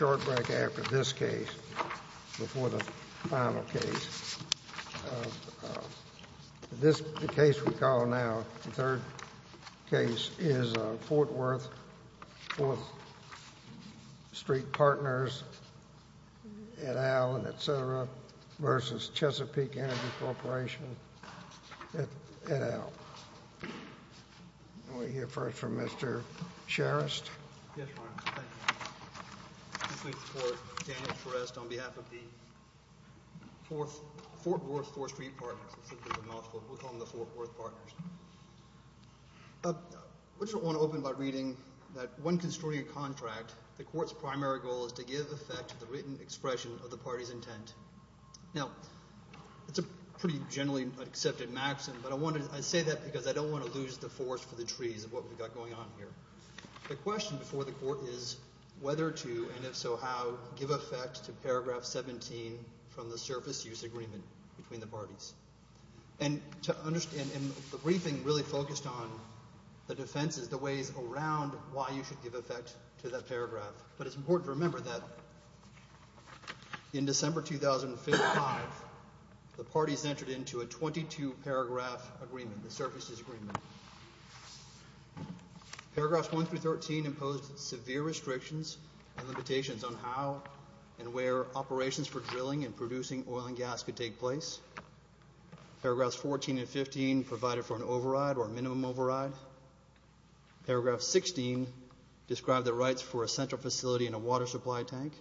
Energy Corporation at el. We'll hear first from Mr. Mr. Charest. On behalf of the Fort Worth Four Street Partners, we'll call them the Fort Worth Partners. I just want to open by reading that when construing a contract, the court's primary goal is to give effect to the written expression of the party's intent. Now it's a pretty generally accepted maxim, but I say that because I don't want to lose the forest for the trees of what we've got going on here. The question before the court is whether to, and if so how, give effect to paragraph 17 from the surface use agreement between the parties. And the briefing really focused on the defenses, the ways around why you should give effect to that paragraph. But it's important to remember that in December 2005, the parties entered into a 22-paragraph agreement, the surface use agreement. Paragraphs 1 through 13 imposed severe restrictions and limitations on how and where operations for drilling and producing oil and gas could take place. Paragraphs 14 and 15 provided for an override or minimum override. Paragraph 16 described the rights for a central facility and a water supply tank.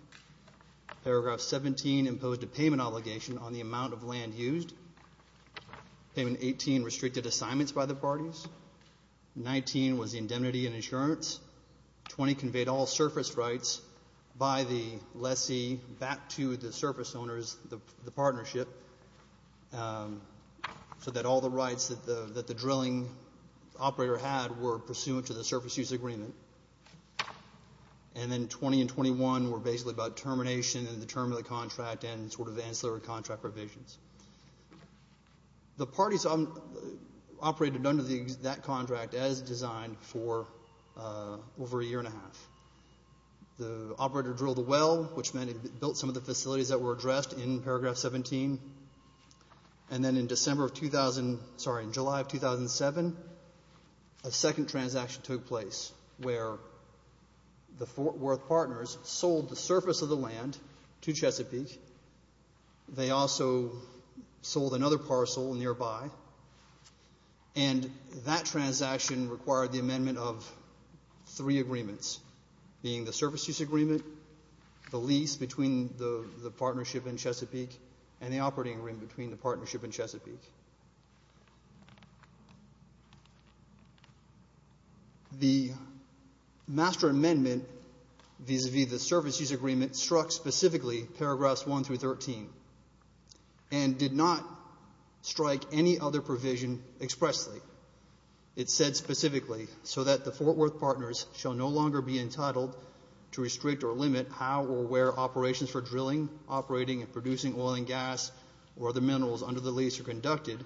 Paragraph 17 imposed a payment obligation on the amount of land used. Paragraph 18 restricted assignments by the parties. Paragraph 19 was indemnity and insurance. Paragraph 20 conveyed all surface rights by the lessee back to the surface owners, the partnership, so that all the rights that the drilling operator had were pursuant to the surface use agreement. And then 20 and 21 were basically about termination and the term of the contract and sort of the The parties operated under that contract as designed for over a year and a half. The operator drilled a well, which meant it built some of the facilities that were addressed in paragraph 17. And then in July of 2007, a second transaction took place where the Fort Worth partners sold the surface of the land to Chesapeake. They also sold another parcel nearby. And that transaction required the amendment of three agreements, being the surface use agreement, the lease between the partnership and Chesapeake, and the operating agreement between the partnership and Chesapeake. The master amendment vis-a-vis the surface use agreement struck specifically paragraphs 1 through 13 and did not strike any other provision expressly. It said specifically, so that the Fort Worth partners shall no longer be entitled to restrict or limit how or where operations for drilling, operating and producing oil and gas or other land, the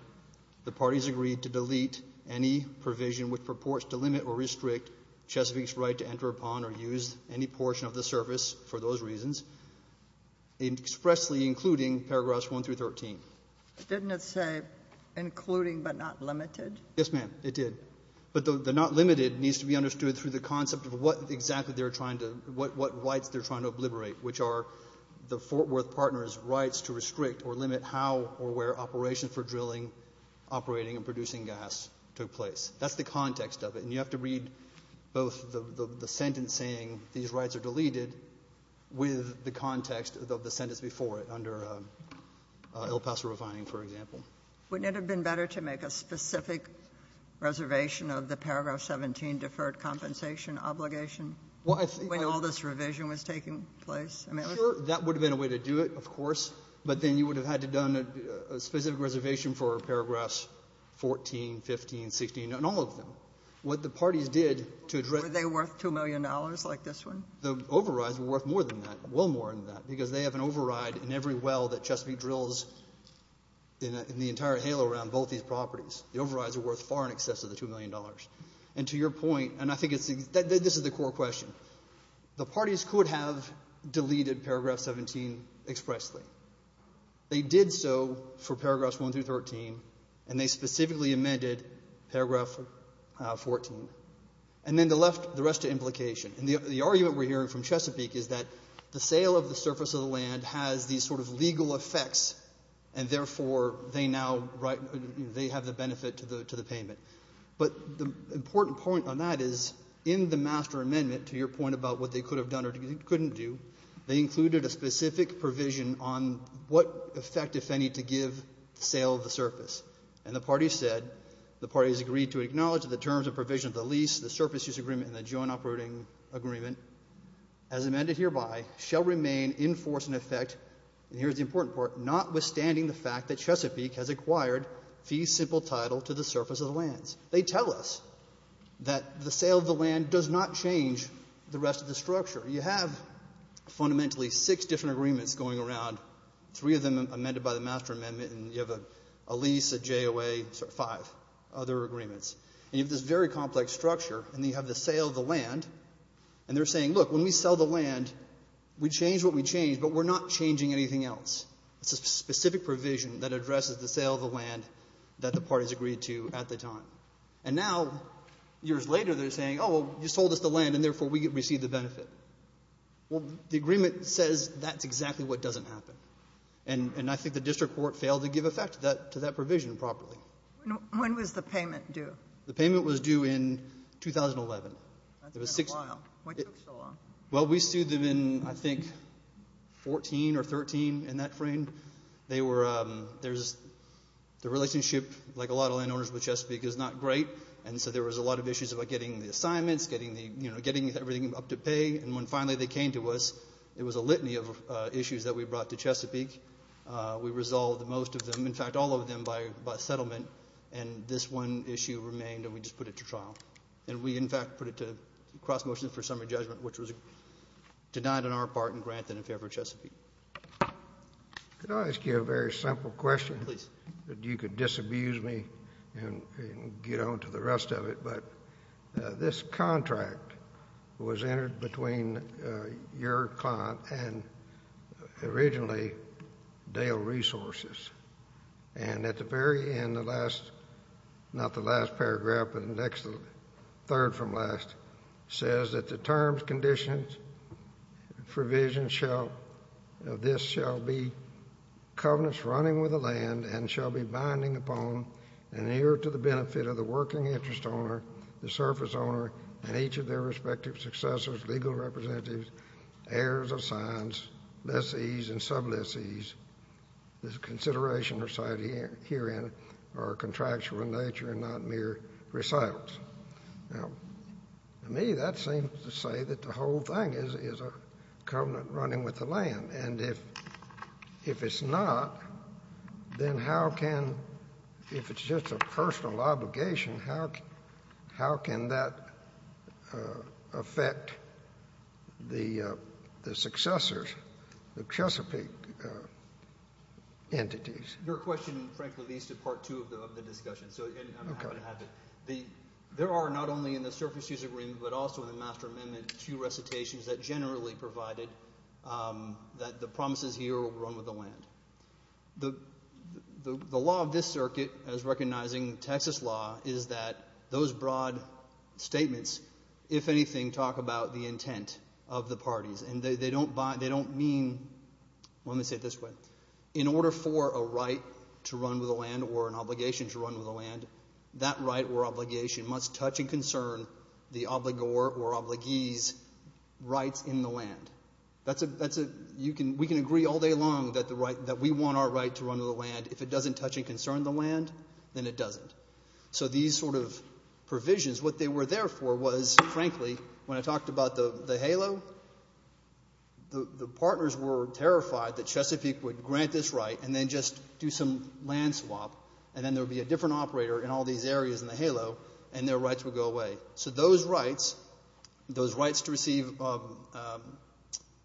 parties agreed to delete any provision which purports to limit or restrict Chesapeake's right to enter upon or use any portion of the surface for those reasons, expressly including paragraphs 1 through 13. Didn't it say including but not limited? Yes, ma'am. It did. But the not limited needs to be understood through the concept of what exactly they're trying to do, what rights they're trying to obliterate, which are the Fort Worth partners' rights to restrict or limit how or where operations for drilling, operating and producing gas took place. That's the context of it. And you have to read both the sentence saying these rights are deleted with the context of the sentence before it under El Paso refining, for example. Wouldn't it have been better to make a specific reservation of the paragraph 17 deferred compensation obligation when all this revision was taking place? I mean, I'm sure that would have been a way to do it, of course, but then you would have had to have done a specific reservation for paragraphs 14, 15, 16, and all of them. What the parties did to address the overrides were worth more than that, well more than that, because they have an override in every well that Chesapeake drills in the entire halo around both these properties. The overrides were worth far in excess of the $2 million. And to your point, and I think this is the core question, the parties could have deleted paragraph 17 expressly. They did so for paragraphs 1 through 13, and they specifically amended paragraph 14. And then the rest of the implication, and the argument we're hearing from Chesapeake is that the sale of the surface of the land has these sort of legal effects, and therefore, they now have the benefit to the payment. But the important point on that is in the master amendment, to your point about what they could have done or couldn't do, they included a specific provision on what effect, if any, to give the sale of the surface. And the parties said, the parties agreed to acknowledge the terms of provision of the lease, the surface use agreement, and the joint operating agreement as amended hereby shall remain in force and effect, and here's the important part, notwithstanding the fact that Chesapeake has acquired fee simple title to the surface of the lands. They tell us that the sale of the land does not change the rest of the structure. You have fundamentally six different agreements going around, three of them amended by the master amendment, and you have a lease, a JOA, five other agreements. And you have this very complex structure, and you have the sale of the land, and they're saying, look, when we sell the land, we change what we change, but we're not going to change anything that addresses the sale of the land that the parties agreed to at the time. And now, years later, they're saying, oh, you sold us the land, and therefore we receive the benefit. Well, the agreement says that's exactly what doesn't happen. And I think the district court failed to give effect to that provision properly. When was the payment due? The payment was due in 2011. That's been a while. What took so long? Well, we sued them in, I think, 14 or 13, in that frame. The relationship, like a lot of landowners with Chesapeake, is not great, and so there was a lot of issues about getting the assignments, getting everything up to pay. And when finally they came to us, it was a litany of issues that we brought to Chesapeake. We resolved most of them, in fact, all of them by settlement, and this one issue remained, and we just put it to trial. And we, in fact, put it to cross-motion for summary judgment, which was denied on our part and granted in favor of Chesapeake. Could I ask you a very simple question? Please. You could disabuse me and get on to the rest of it, but this contract was entered between your client and originally Dale Resources. And at the very end, the last, not the last paragraph, but the next third from the last, says that the terms, conditions, provisions of this shall be covenants running with the land and shall be binding upon and here to the benefit of the working interest owner, the surface owner, and each of their respective successors, legal representatives, heirs of signs, lessees, and sublessees. This consideration recited herein are contractual in nature and not mere recitals. Now, to me, that seems to say that the whole thing is a covenant running with the land, and if it's not, then how can, if it's just a personal obligation, how can that affect the successors, the Chesapeake entities? Your question, frankly, leads to Part 2 of the discussion. There are, not only in the surface use agreement, but also in the Master Amendment, two recitations that generally provided that the promises here run with the land. The law of this circuit, as recognizing Texas law, is that those broad statements, if anything, talk about the intent of the parties, and they don't mean, let me say it this way, in order for a right to run with the land or an obligation to run with the land, that right or obligation must touch and concern the obligor or obligees' rights in the land. We can agree all day long that we want our right to run with the land. If it doesn't touch and concern the land, then it doesn't. So these sort of provisions, what they were there for was, frankly, when I talked about the halo, the partners were terrified that Chesapeake would grant this right and then just do some land swap, and then there would be a different operator in all these areas in the halo, and their rights would go away. So those rights, those rights to receive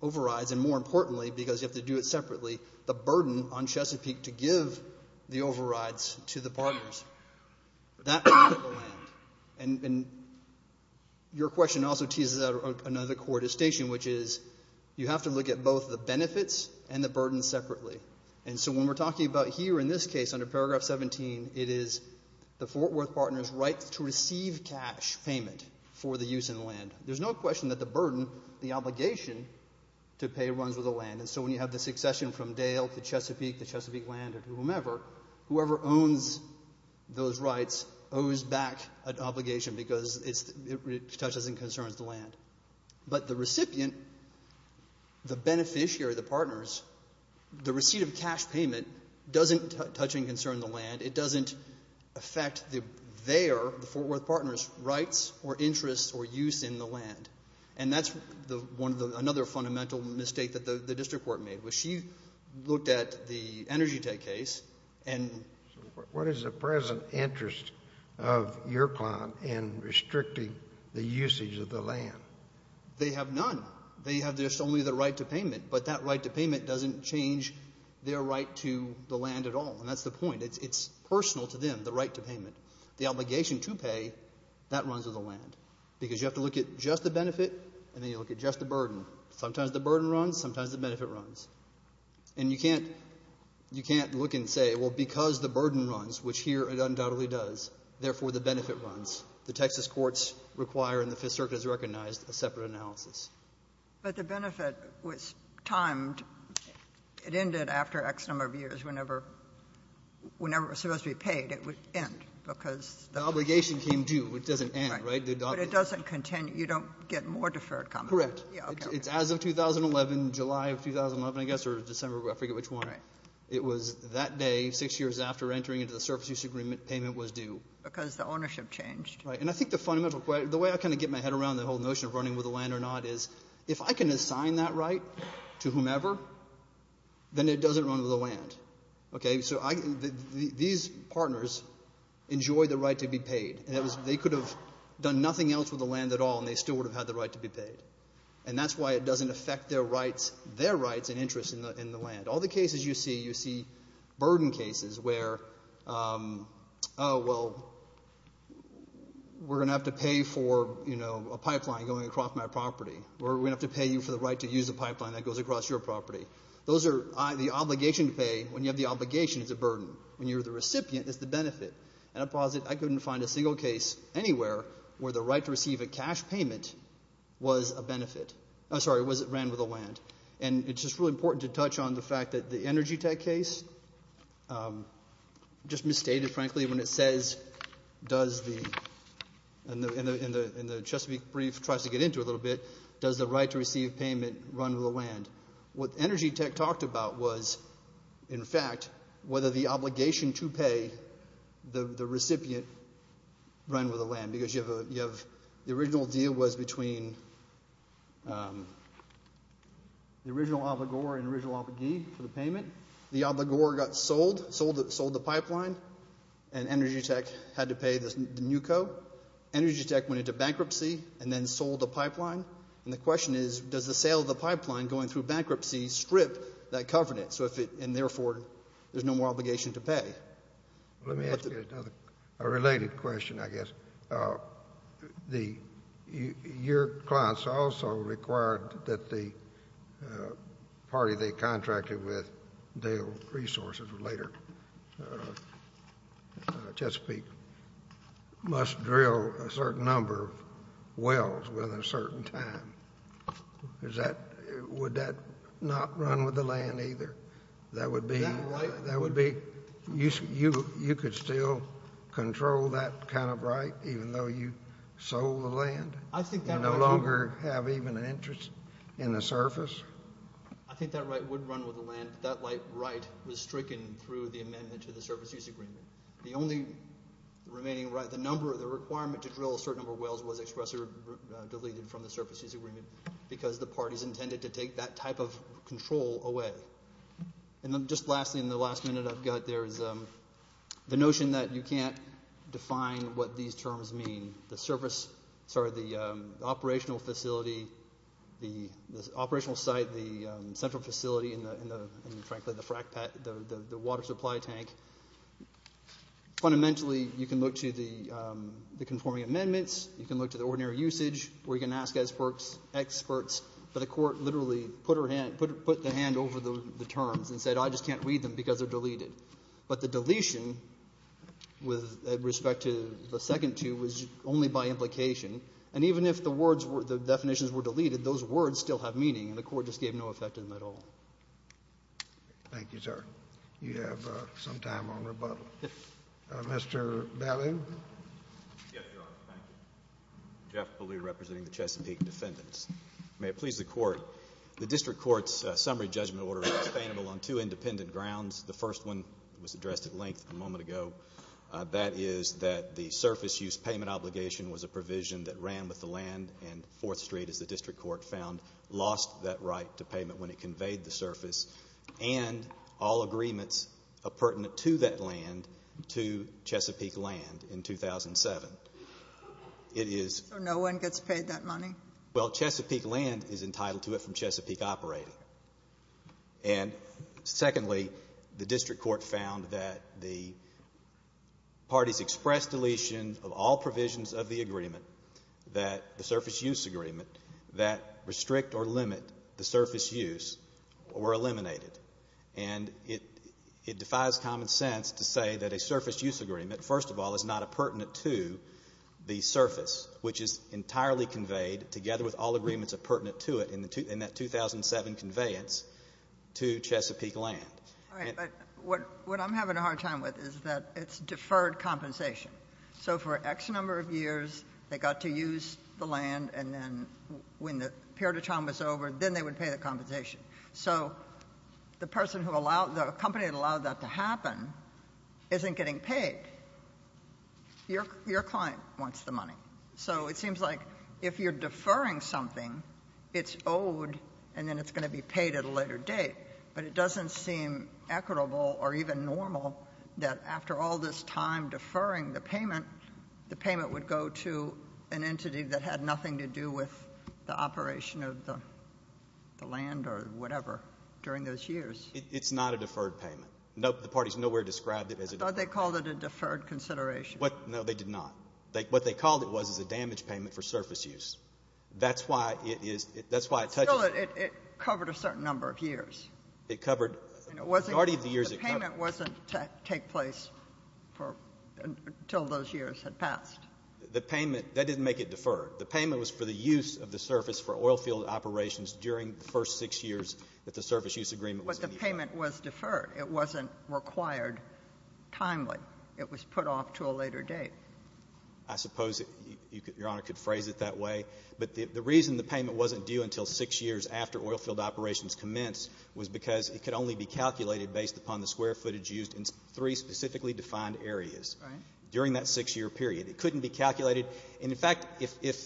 overrides, and more importantly, because you have to do it separately, the burden on Chesapeake to give the overrides to the partners, that would affect the land. And your question also teases out another core distinction, which is you have to look at both the benefits and the burden separately. And so when we're talking about here in this case under Paragraph 17, it is the Fort Worth partner's right to receive cash payment for the use in the land. There's no question that the burden, the obligation to pay runs with the land. And so when you have the succession from Dale to Chesapeake to Chesapeake land or to whomever, whoever owns those rights owes back an obligation because it touches and concerns the land. But the recipient, the beneficiary, the partners, the receipt of cash payment doesn't touch and concern the land. It doesn't affect their, the Fort Worth partner's, rights or interests or use in the land. And that's another fundamental mistake that the district court made, which she looked at the Energy Tech case. What is the present interest of your client in restricting the usage of the land? They have none. They have just only the right to payment, but that right to payment doesn't change their right to the land at all. And that's the point. It's personal to them, the right to payment. The obligation to pay, that runs with the land because you have to look at just the benefit and then you look at just the burden. Sometimes the burden runs. Sometimes the benefit runs. And you can't, you can't look and say, well, because the burden runs, which here it undoubtedly does, therefore the benefit runs. The Texas courts require and the Fifth Circuit has recognized a separate analysis. But the benefit was timed. It ended after X number of years. Whenever, whenever it was supposed to be paid, it would end because the obligation came due. It doesn't end, right? But it doesn't continue. You don't get more deferred compensation. Correct. It's as of 2011, July of 2011, I guess, or December, I forget which one. Right. It was that day, six years after entering into the surface use agreement, payment was due. Because the ownership changed. Right. And I think the fundamental question, the way I kind of get my head around the whole notion of running with the land or not is if I can assign that right to whomever, then it doesn't run with the land. Okay? So I, these partners enjoy the right to be paid. They could have done nothing else with the land at all, and they still would have had the right to be paid. And that's why it doesn't affect their rights, their rights and interests in the land. All the cases you see, you see burden cases where, oh, well, we're going to have to pay for, you know, a pipeline going across my property, or we're going to have to pay you for the right to use a pipeline that goes across your property. Those are the obligation to pay. When you have the obligation, it's a burden. When you're the recipient, it's the benefit. And I posit I couldn't find a single case anywhere where the right to receive a cash payment was a benefit. I'm sorry, was it ran with the land. And it's just really important to touch on the fact that the Energy Tech case, just misstated, frankly, when it says, does the, in the Chesapeake brief, tries to get into it a little bit, does the right to receive payment run with the land? What Energy Tech talked about was, in fact, whether the obligation to pay the recipient run with the land. Because you have, the original deal was between the original obligor and original obligee for the payment. The obligor got sold, sold the pipeline, and Energy Tech had to pay the NUCO. Energy Tech went into bankruptcy and then sold the pipeline. And the question is, does the sale of the pipeline going through bankruptcy strip that covenant? So if it, and therefore, there's no more obligation to pay. Let me ask you another, a related question, I guess. The, your clients also required that the party they contracted with deal resources later, Chesapeake, must drill a certain number of wells within a certain time. Is that, would that not run with the land either? That would be, that would be, you could still control that kind of right, even though you sold the land? I think that right. You no longer have even an interest in the surface? I think that right would run with the land, but that right was stricken through the amendment to the surface use agreement. The only remaining right, the number, the requirement to drill a certain number of wells was expressly deleted from the surface use agreement because the parties intended to take that type of control away. And then just lastly, in the last minute I've got, there's the notion that you can't define what these terms mean. The surface, sorry, the operational facility, the operational site, the central facility, and frankly, the water supply tank. Fundamentally, you can look to the conforming amendments, you can look to the ordinary usage, or you can ask experts, but the court literally put her hand, put the hand over the terms and said, I just can't read them because they're deleted. But the deletion with respect to the second two was only by implication. And even if the words were, the definitions were deleted, those words still have meaning, and the court just gave no effect to them at all. Thank you, sir. Well, you have some time on rebuttal. Mr. Ballew? Yes, Your Honor. Thank you. Jeff Ballew, representing the Chesapeake defendants. May it please the court. The district court's summary judgment order is sustainable on two independent grounds. The first one was addressed at length a moment ago. That is that the surface use payment obligation was a provision that ran with the land, and Fourth Street, as the district court found, lost that right to that land to Chesapeake Land in 2007. So no one gets paid that money? Well, Chesapeake Land is entitled to it from Chesapeake operating. And secondly, the district court found that the parties expressed deletion of all provisions of the agreement that the surface use agreement that restrict or limit the surface use were eliminated. And it defies common sense to say that a surface use agreement, first of all, is not appurtenant to the surface, which is entirely conveyed together with all agreements appurtenant to it in that 2007 conveyance to Chesapeake Land. All right. But what I'm having a hard time with is that it's deferred compensation. So for X number of years, they got to use the land, and then when the period of trauma is over, then they would pay the compensation. So the person who allowed the company that allowed that to happen isn't getting paid. Your client wants the money. So it seems like if you're deferring something, it's owed, and then it's going to be paid at a later date. But it doesn't seem equitable or even normal that after all this time deferring the payment, the payment would go to an entity that had nothing to do with the land or whatever during those years. It's not a deferred payment. The parties nowhere described it as a deferred. I thought they called it a deferred consideration. No, they did not. What they called it was a damage payment for surface use. That's why it touches. Still, it covered a certain number of years. It covered a majority of the years it covered. The payment wasn't to take place until those years had passed. The payment, that didn't make it deferred. The payment was for the use of the surface for oilfield operations during the first six years that the surface use agreement was in effect. But the payment was deferred. It wasn't required timely. It was put off to a later date. I suppose Your Honor could phrase it that way. But the reason the payment wasn't due until six years after oilfield operations commenced was because it could only be calculated based upon the square footage used in three specifically defined areas. Right. During that six-year period. It couldn't be calculated. And, in fact, if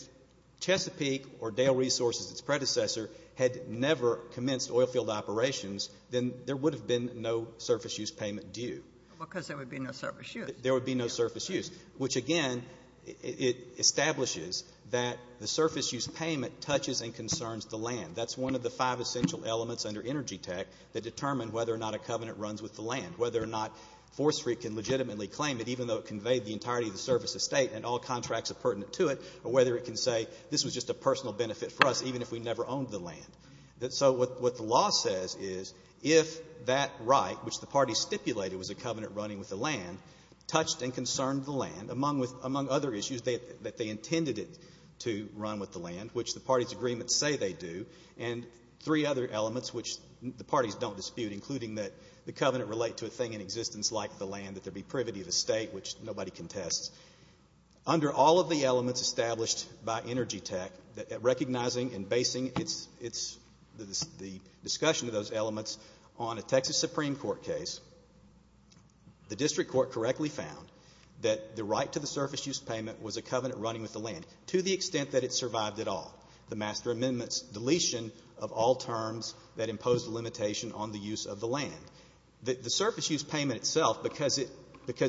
Chesapeake or Dale Resources, its predecessor, had never commenced oilfield operations, then there would have been no surface use payment due. Because there would be no surface use. There would be no surface use, which, again, it establishes that the surface use payment touches and concerns the land. That's one of the five essential elements under Energy Tech that determine whether or not a covenant runs with the land, whether or not Forestry can legitimately claim it, whether or not all contracts are pertinent to it, or whether it can say this was just a personal benefit for us, even if we never owned the land. So what the law says is if that right, which the parties stipulated was a covenant running with the land, touched and concerned the land, among other issues, that they intended it to run with the land, which the parties' agreements say they do, and three other elements which the parties don't dispute, including that the covenant relate to a thing in existence like the land, and that there be privity of the state, which nobody contests. Under all of the elements established by Energy Tech, recognizing and basing the discussion of those elements on a Texas Supreme Court case, the district court correctly found that the right to the surface use payment was a covenant running with the land to the extent that it survived at all. The master amendment's deletion of all terms that imposed a limitation on the use of the land. The surface use payment itself, because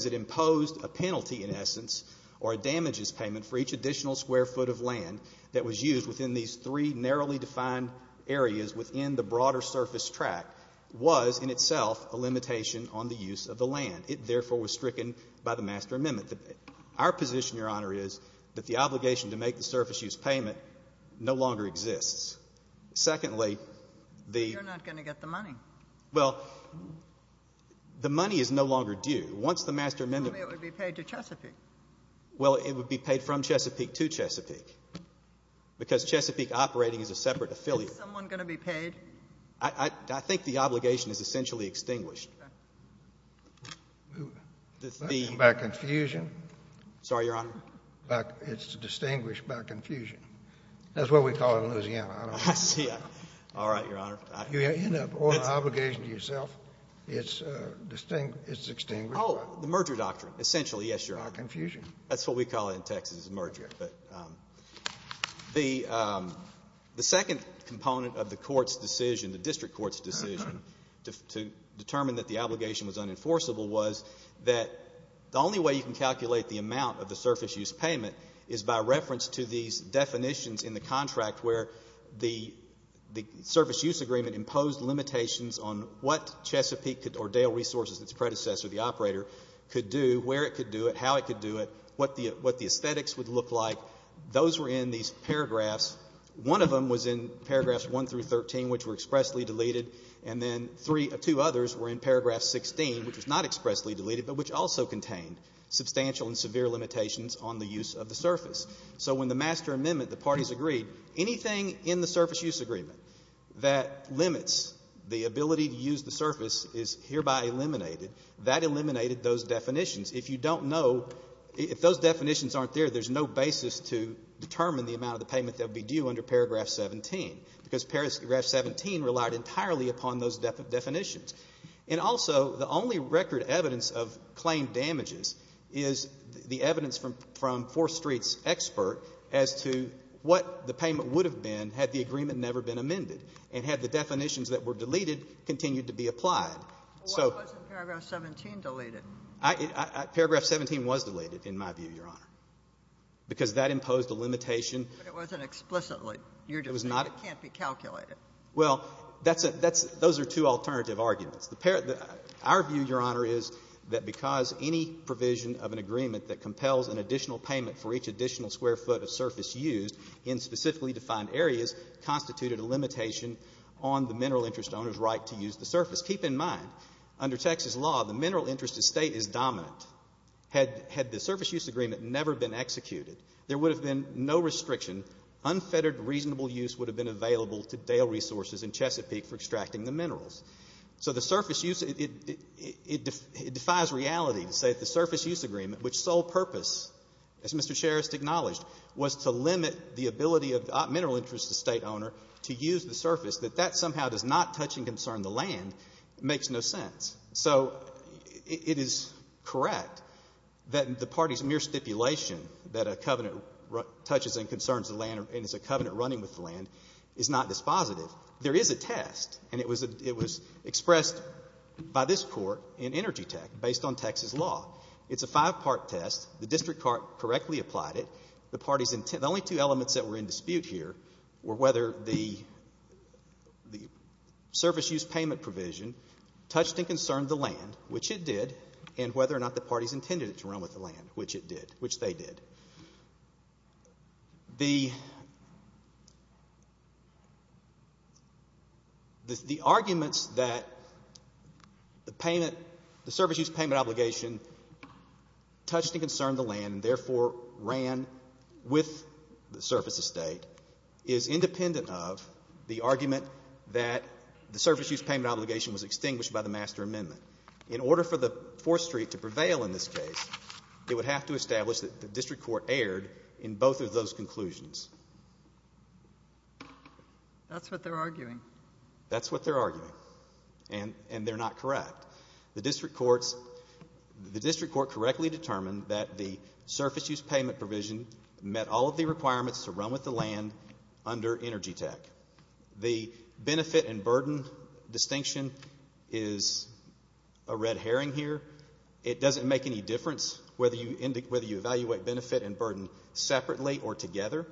it imposed a penalty in essence or damages payment for each additional square foot of land that was used within these three narrowly defined areas within the broader surface track, was in itself a limitation on the use of the land. It, therefore, was stricken by the master amendment. Our position, Your Honor, is that the obligation to make the surface use payment no longer exists. Secondly, the... You're not going to get the money. Well, the money is no longer due. Once the master amendment... It would be paid to Chesapeake. Well, it would be paid from Chesapeake to Chesapeake because Chesapeake operating as a separate affiliate. Is someone going to be paid? I think the obligation is essentially extinguished. Okay. The... By confusion? Sorry, Your Honor. That's what we call it in Louisiana. I see. All right, Your Honor. In the obligation to yourself, it's extinguished. Oh, the merger doctrine, essentially, yes, Your Honor. By confusion. That's what we call it in Texas, a merger. But the second component of the court's decision, the district court's decision, to determine that the obligation was unenforceable was that the only way you can calculate the amount of the surface use payment is by reference to these definitions in the contract where the surface use agreement imposed limitations on what Chesapeake or Dale Resources, its predecessor, the operator, could do, where it could do it, how it could do it, what the aesthetics would look like. Those were in these paragraphs. One of them was in paragraphs 1 through 13, which were expressly deleted, and then two others were in paragraph 16, which was not expressly deleted, but which also contained substantial and severe limitations on the use of the surface. So when the master amendment, the parties agreed, anything in the surface use agreement that limits the ability to use the surface is hereby eliminated. That eliminated those definitions. If you don't know, if those definitions aren't there, there's no basis to determine the amount of the payment that would be due under paragraph 17, because paragraph 17 relied entirely upon those definitions. And also, the only record evidence of claim damages is the evidence from Fourth Street's expert as to what the payment would have been had the agreement never been amended and had the definitions that were deleted continued to be applied. So... Why wasn't paragraph 17 deleted? Paragraph 17 was deleted, in my view, Your Honor, because that imposed a limitation. But it wasn't explicitly. It was not. It can't be calculated. Well, that's a — those are two alternative arguments. Our view, Your Honor, is that because any provision of an agreement that compels an additional payment for each additional square foot of surface used in specifically defined areas constituted a limitation on the mineral interest owner's right to use the surface. Keep in mind, under Texas law, the mineral interest estate is dominant. Had the surface use agreement never been executed, there would have been no restriction. Unfettered reasonable use would have been available to Dale Resources in Chesapeake for extracting the minerals. So the surface use — it defies reality to say that the surface use agreement, which sole purpose, as Mr. Cherist acknowledged, was to limit the ability of the mineral interest estate owner to use the surface, that that somehow does not touch and concern the land, makes no sense. So it is correct that the party's mere stipulation that a covenant touches and concerns the land and is a covenant running with the land is not dispositive. There is a test, and it was expressed by this court in Energy Tech, based on Texas law. It's a five-part test. The district court correctly applied it. The only two elements that were in dispute here were whether the surface use payment provision touched and concerned the land, which it did, and whether or not the parties intended it to run with the land, which it did, which they did. The — the arguments that the payment — the surface use payment obligation touched and concerned the land and therefore ran with the surface estate is independent of the argument that the surface use payment obligation was extinguished by the master amendment. In order for the Fourth Street to prevail in this case, it would have to establish that the district court erred in both of those conclusions. That's what they're arguing. That's what they're arguing. And they're not correct. The district court's — the district court correctly determined that the surface use payment provision met all of the requirements to run with the land under Energy Tech. The benefit and burden distinction is a red herring here. It doesn't make any difference whether you evaluate benefit and burden separately or together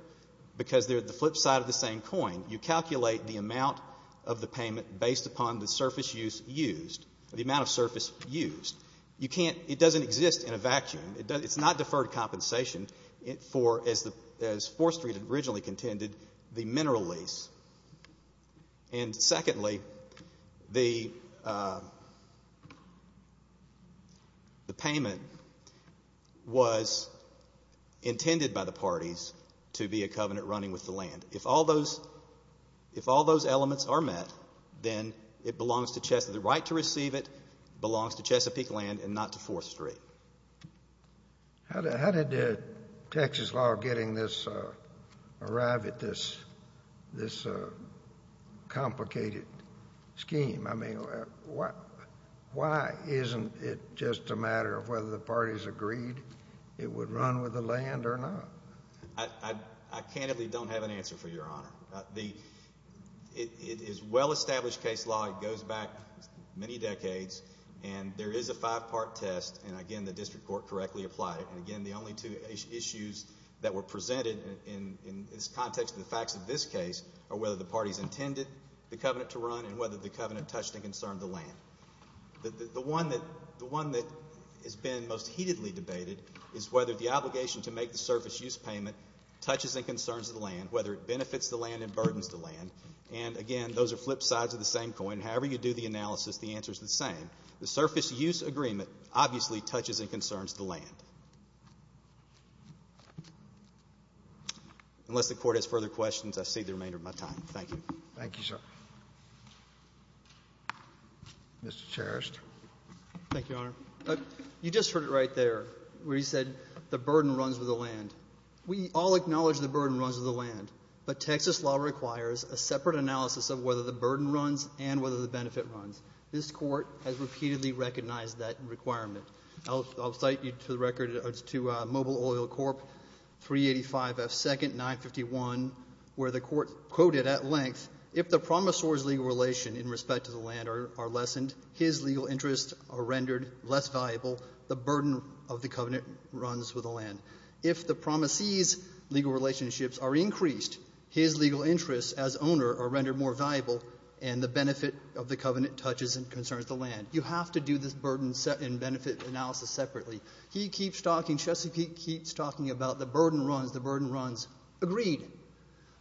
because they're the flip side of the same coin. You calculate the amount of the payment based upon the surface use used, the amount of surface used. You can't — it doesn't exist in a vacuum. It's not deferred compensation for, as Fourth Street originally contended, the mineral lease. And secondly, the payment was intended by the parties to be a covenant running with the land. If all those elements are met, then it belongs to Chesa — the right to receive it belongs to Chesapeake Land and not to Fourth Street. How did Texas law getting this — arrive at this complicated scheme? I mean, why isn't it just a matter of whether the parties agreed it would run with the land or not? I candidly don't have an answer for Your Honor. The — it is well-established case law. It goes back many decades. And there is a five-part test. And again, the district court correctly applied it. And again, the only two issues that were presented in this context of the facts of this case are whether the parties intended the covenant to run and whether the covenant touched and concerned the land. The one that has been most heatedly debated is whether the obligation to make the surface use payment touches and concerns the land, whether it benefits the land and burdens the land. And again, those are flip sides of the same coin. However you do the analysis, the answer is the same. The surface use agreement obviously touches and concerns the land. Unless the Court has further questions, I cede the remainder of my time. Thank you. Thank you, sir. Mr. Cherish. Thank you, Your Honor. You just heard it right there where he said the burden runs with the land. We all acknowledge the burden runs with the land. But Texas law requires a separate analysis of whether the burden runs and whether the benefit runs. This Court has repeatedly recognized that requirement. I'll cite you to the record to Mobile Oil Corp. 385 F. 2nd, 951, where the Court quoted at length, if the promisor's legal relation in respect to the land are lessened, his legal interests are rendered less valuable, the burden of the covenant runs with the land. If the promisee's legal relationships are increased, his legal interests as owner are rendered more valuable, and the benefit of the covenant touches and concerns the land. You have to do this burden and benefit analysis separately. He keeps talking, Chesapeake keeps talking about the burden runs, the burden runs. Agreed.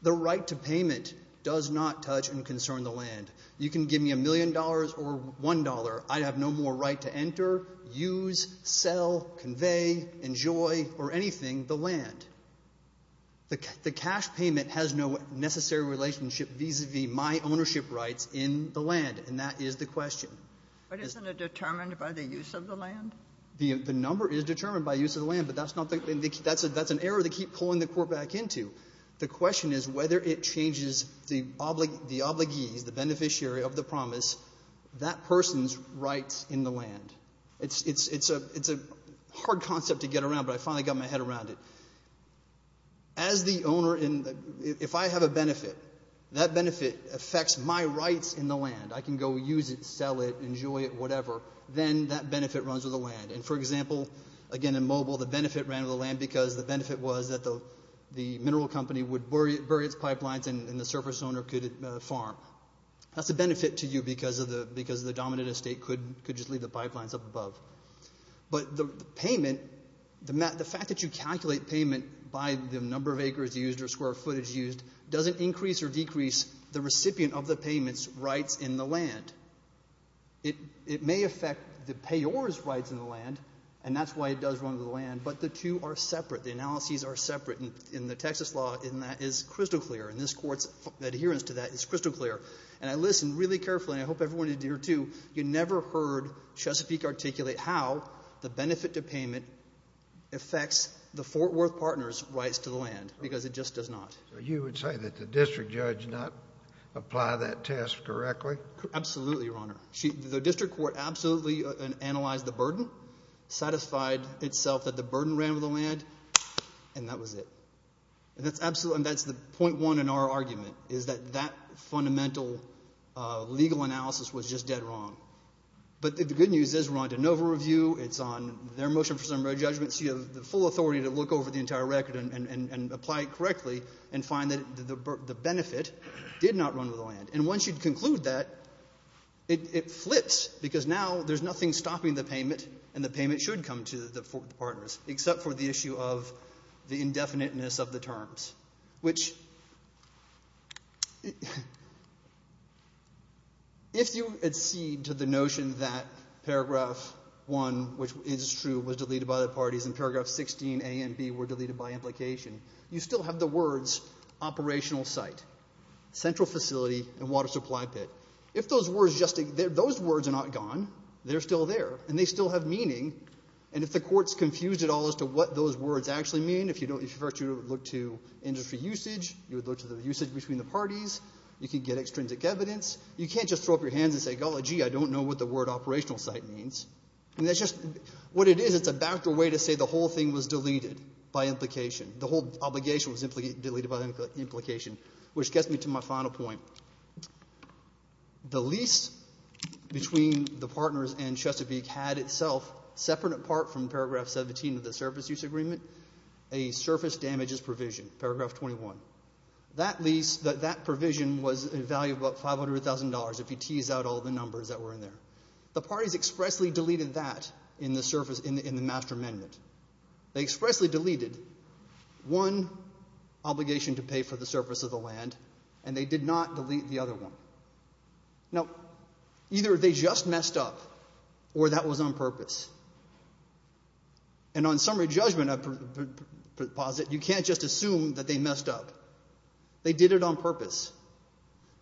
The right to payment does not touch and concern the land. You can give me a million dollars or one dollar. I have no more right to enter, use, sell, convey, enjoy, or anything the land. The cash payment has no necessary relationship vis-a-vis my ownership rights in the land, and that is the question. But isn't it determined by the use of the land? The number is determined by use of the land, but that's not the key. That's an error they keep pulling the Court back into. The question is whether it changes the obligees, the beneficiary of the promise, that person's rights in the land. It's a hard concept to get around, but I finally got my head around it. As the owner, if I have a benefit, that benefit affects my rights in the land. I can go use it, sell it, enjoy it, whatever. Then that benefit runs with the land. And, for example, again in Mobile, the benefit ran with the land because the benefit was that the mineral company would bury its pipelines and the surface owner could farm. That's a benefit to you because the dominant estate could just leave the pipelines up above. But the payment, the fact that you calculate payment by the number of acres used or square footage used doesn't increase or decrease the recipient of the payment's rights in the land. It may affect the payor's rights in the land, and that's why it does run with the land, but the two are separate. The analyses are separate. And the Texas law in that is crystal clear, and this Court's adherence to that is crystal clear. And I listened really carefully, and I hope everyone did here, too. You never heard Chesapeake articulate how the benefit to payment affects the Fort Worth Partners' rights to the land because it just does not. So you would say that the district judge did not apply that test correctly? Absolutely, Your Honor. The district court absolutely analyzed the burden, satisfied itself that the burden ran with the land, and that was it. And that's the point one in our argument is that that fundamental legal analysis was just dead wrong. But the good news is we're on de novo review, it's on their motion for summary judgment, so you have the full authority to look over the entire record and apply it correctly and find that the benefit did not run with the land. And once you conclude that, it flips because now there's nothing stopping the payment and the payment should come to the Fort Worth Partners except for the issue of the indefiniteness of the terms. Which if you accede to the notion that Paragraph 1, which is true, was deleted by the parties, and Paragraph 16A and B were deleted by implication, you still have the words operational site, central facility, and water supply pit. If those words are not gone, they're still there, and they still have meaning. And if the court's confused at all as to what those words actually mean, if you were to look to industry usage, you would look to the usage between the parties, you could get extrinsic evidence. You can't just throw up your hands and say, golly, gee, I don't know what the word operational site means. And that's just what it is. It's a backer way to say the whole thing was deleted by implication. The whole obligation was deleted by implication. Which gets me to my final point. The lease between the partners and Chesapeake had itself, separate in part from Paragraph 17 of the surface use agreement, a surface damages provision, Paragraph 21. That lease, that provision was a value of about $500,000 if you tease out all the numbers that were in there. The parties expressly deleted that in the master amendment. They expressly deleted one obligation to pay for the surface of the land, and they did not delete the other one. Now, either they just messed up, or that was on purpose. And on summary judgment, I posit, you can't just assume that they messed up. They did it on purpose.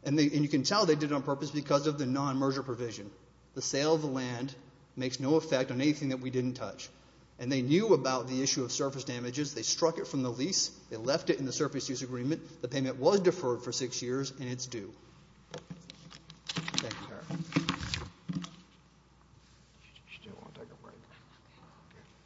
And you can tell they did it on purpose because of the non-merger provision. The sale of the land makes no effect on anything that we didn't touch. And they knew about the issue of surface damages. They struck it from the lease. They left it in the surface use agreement. The payment was deferred for six years, and it's due. Thank you.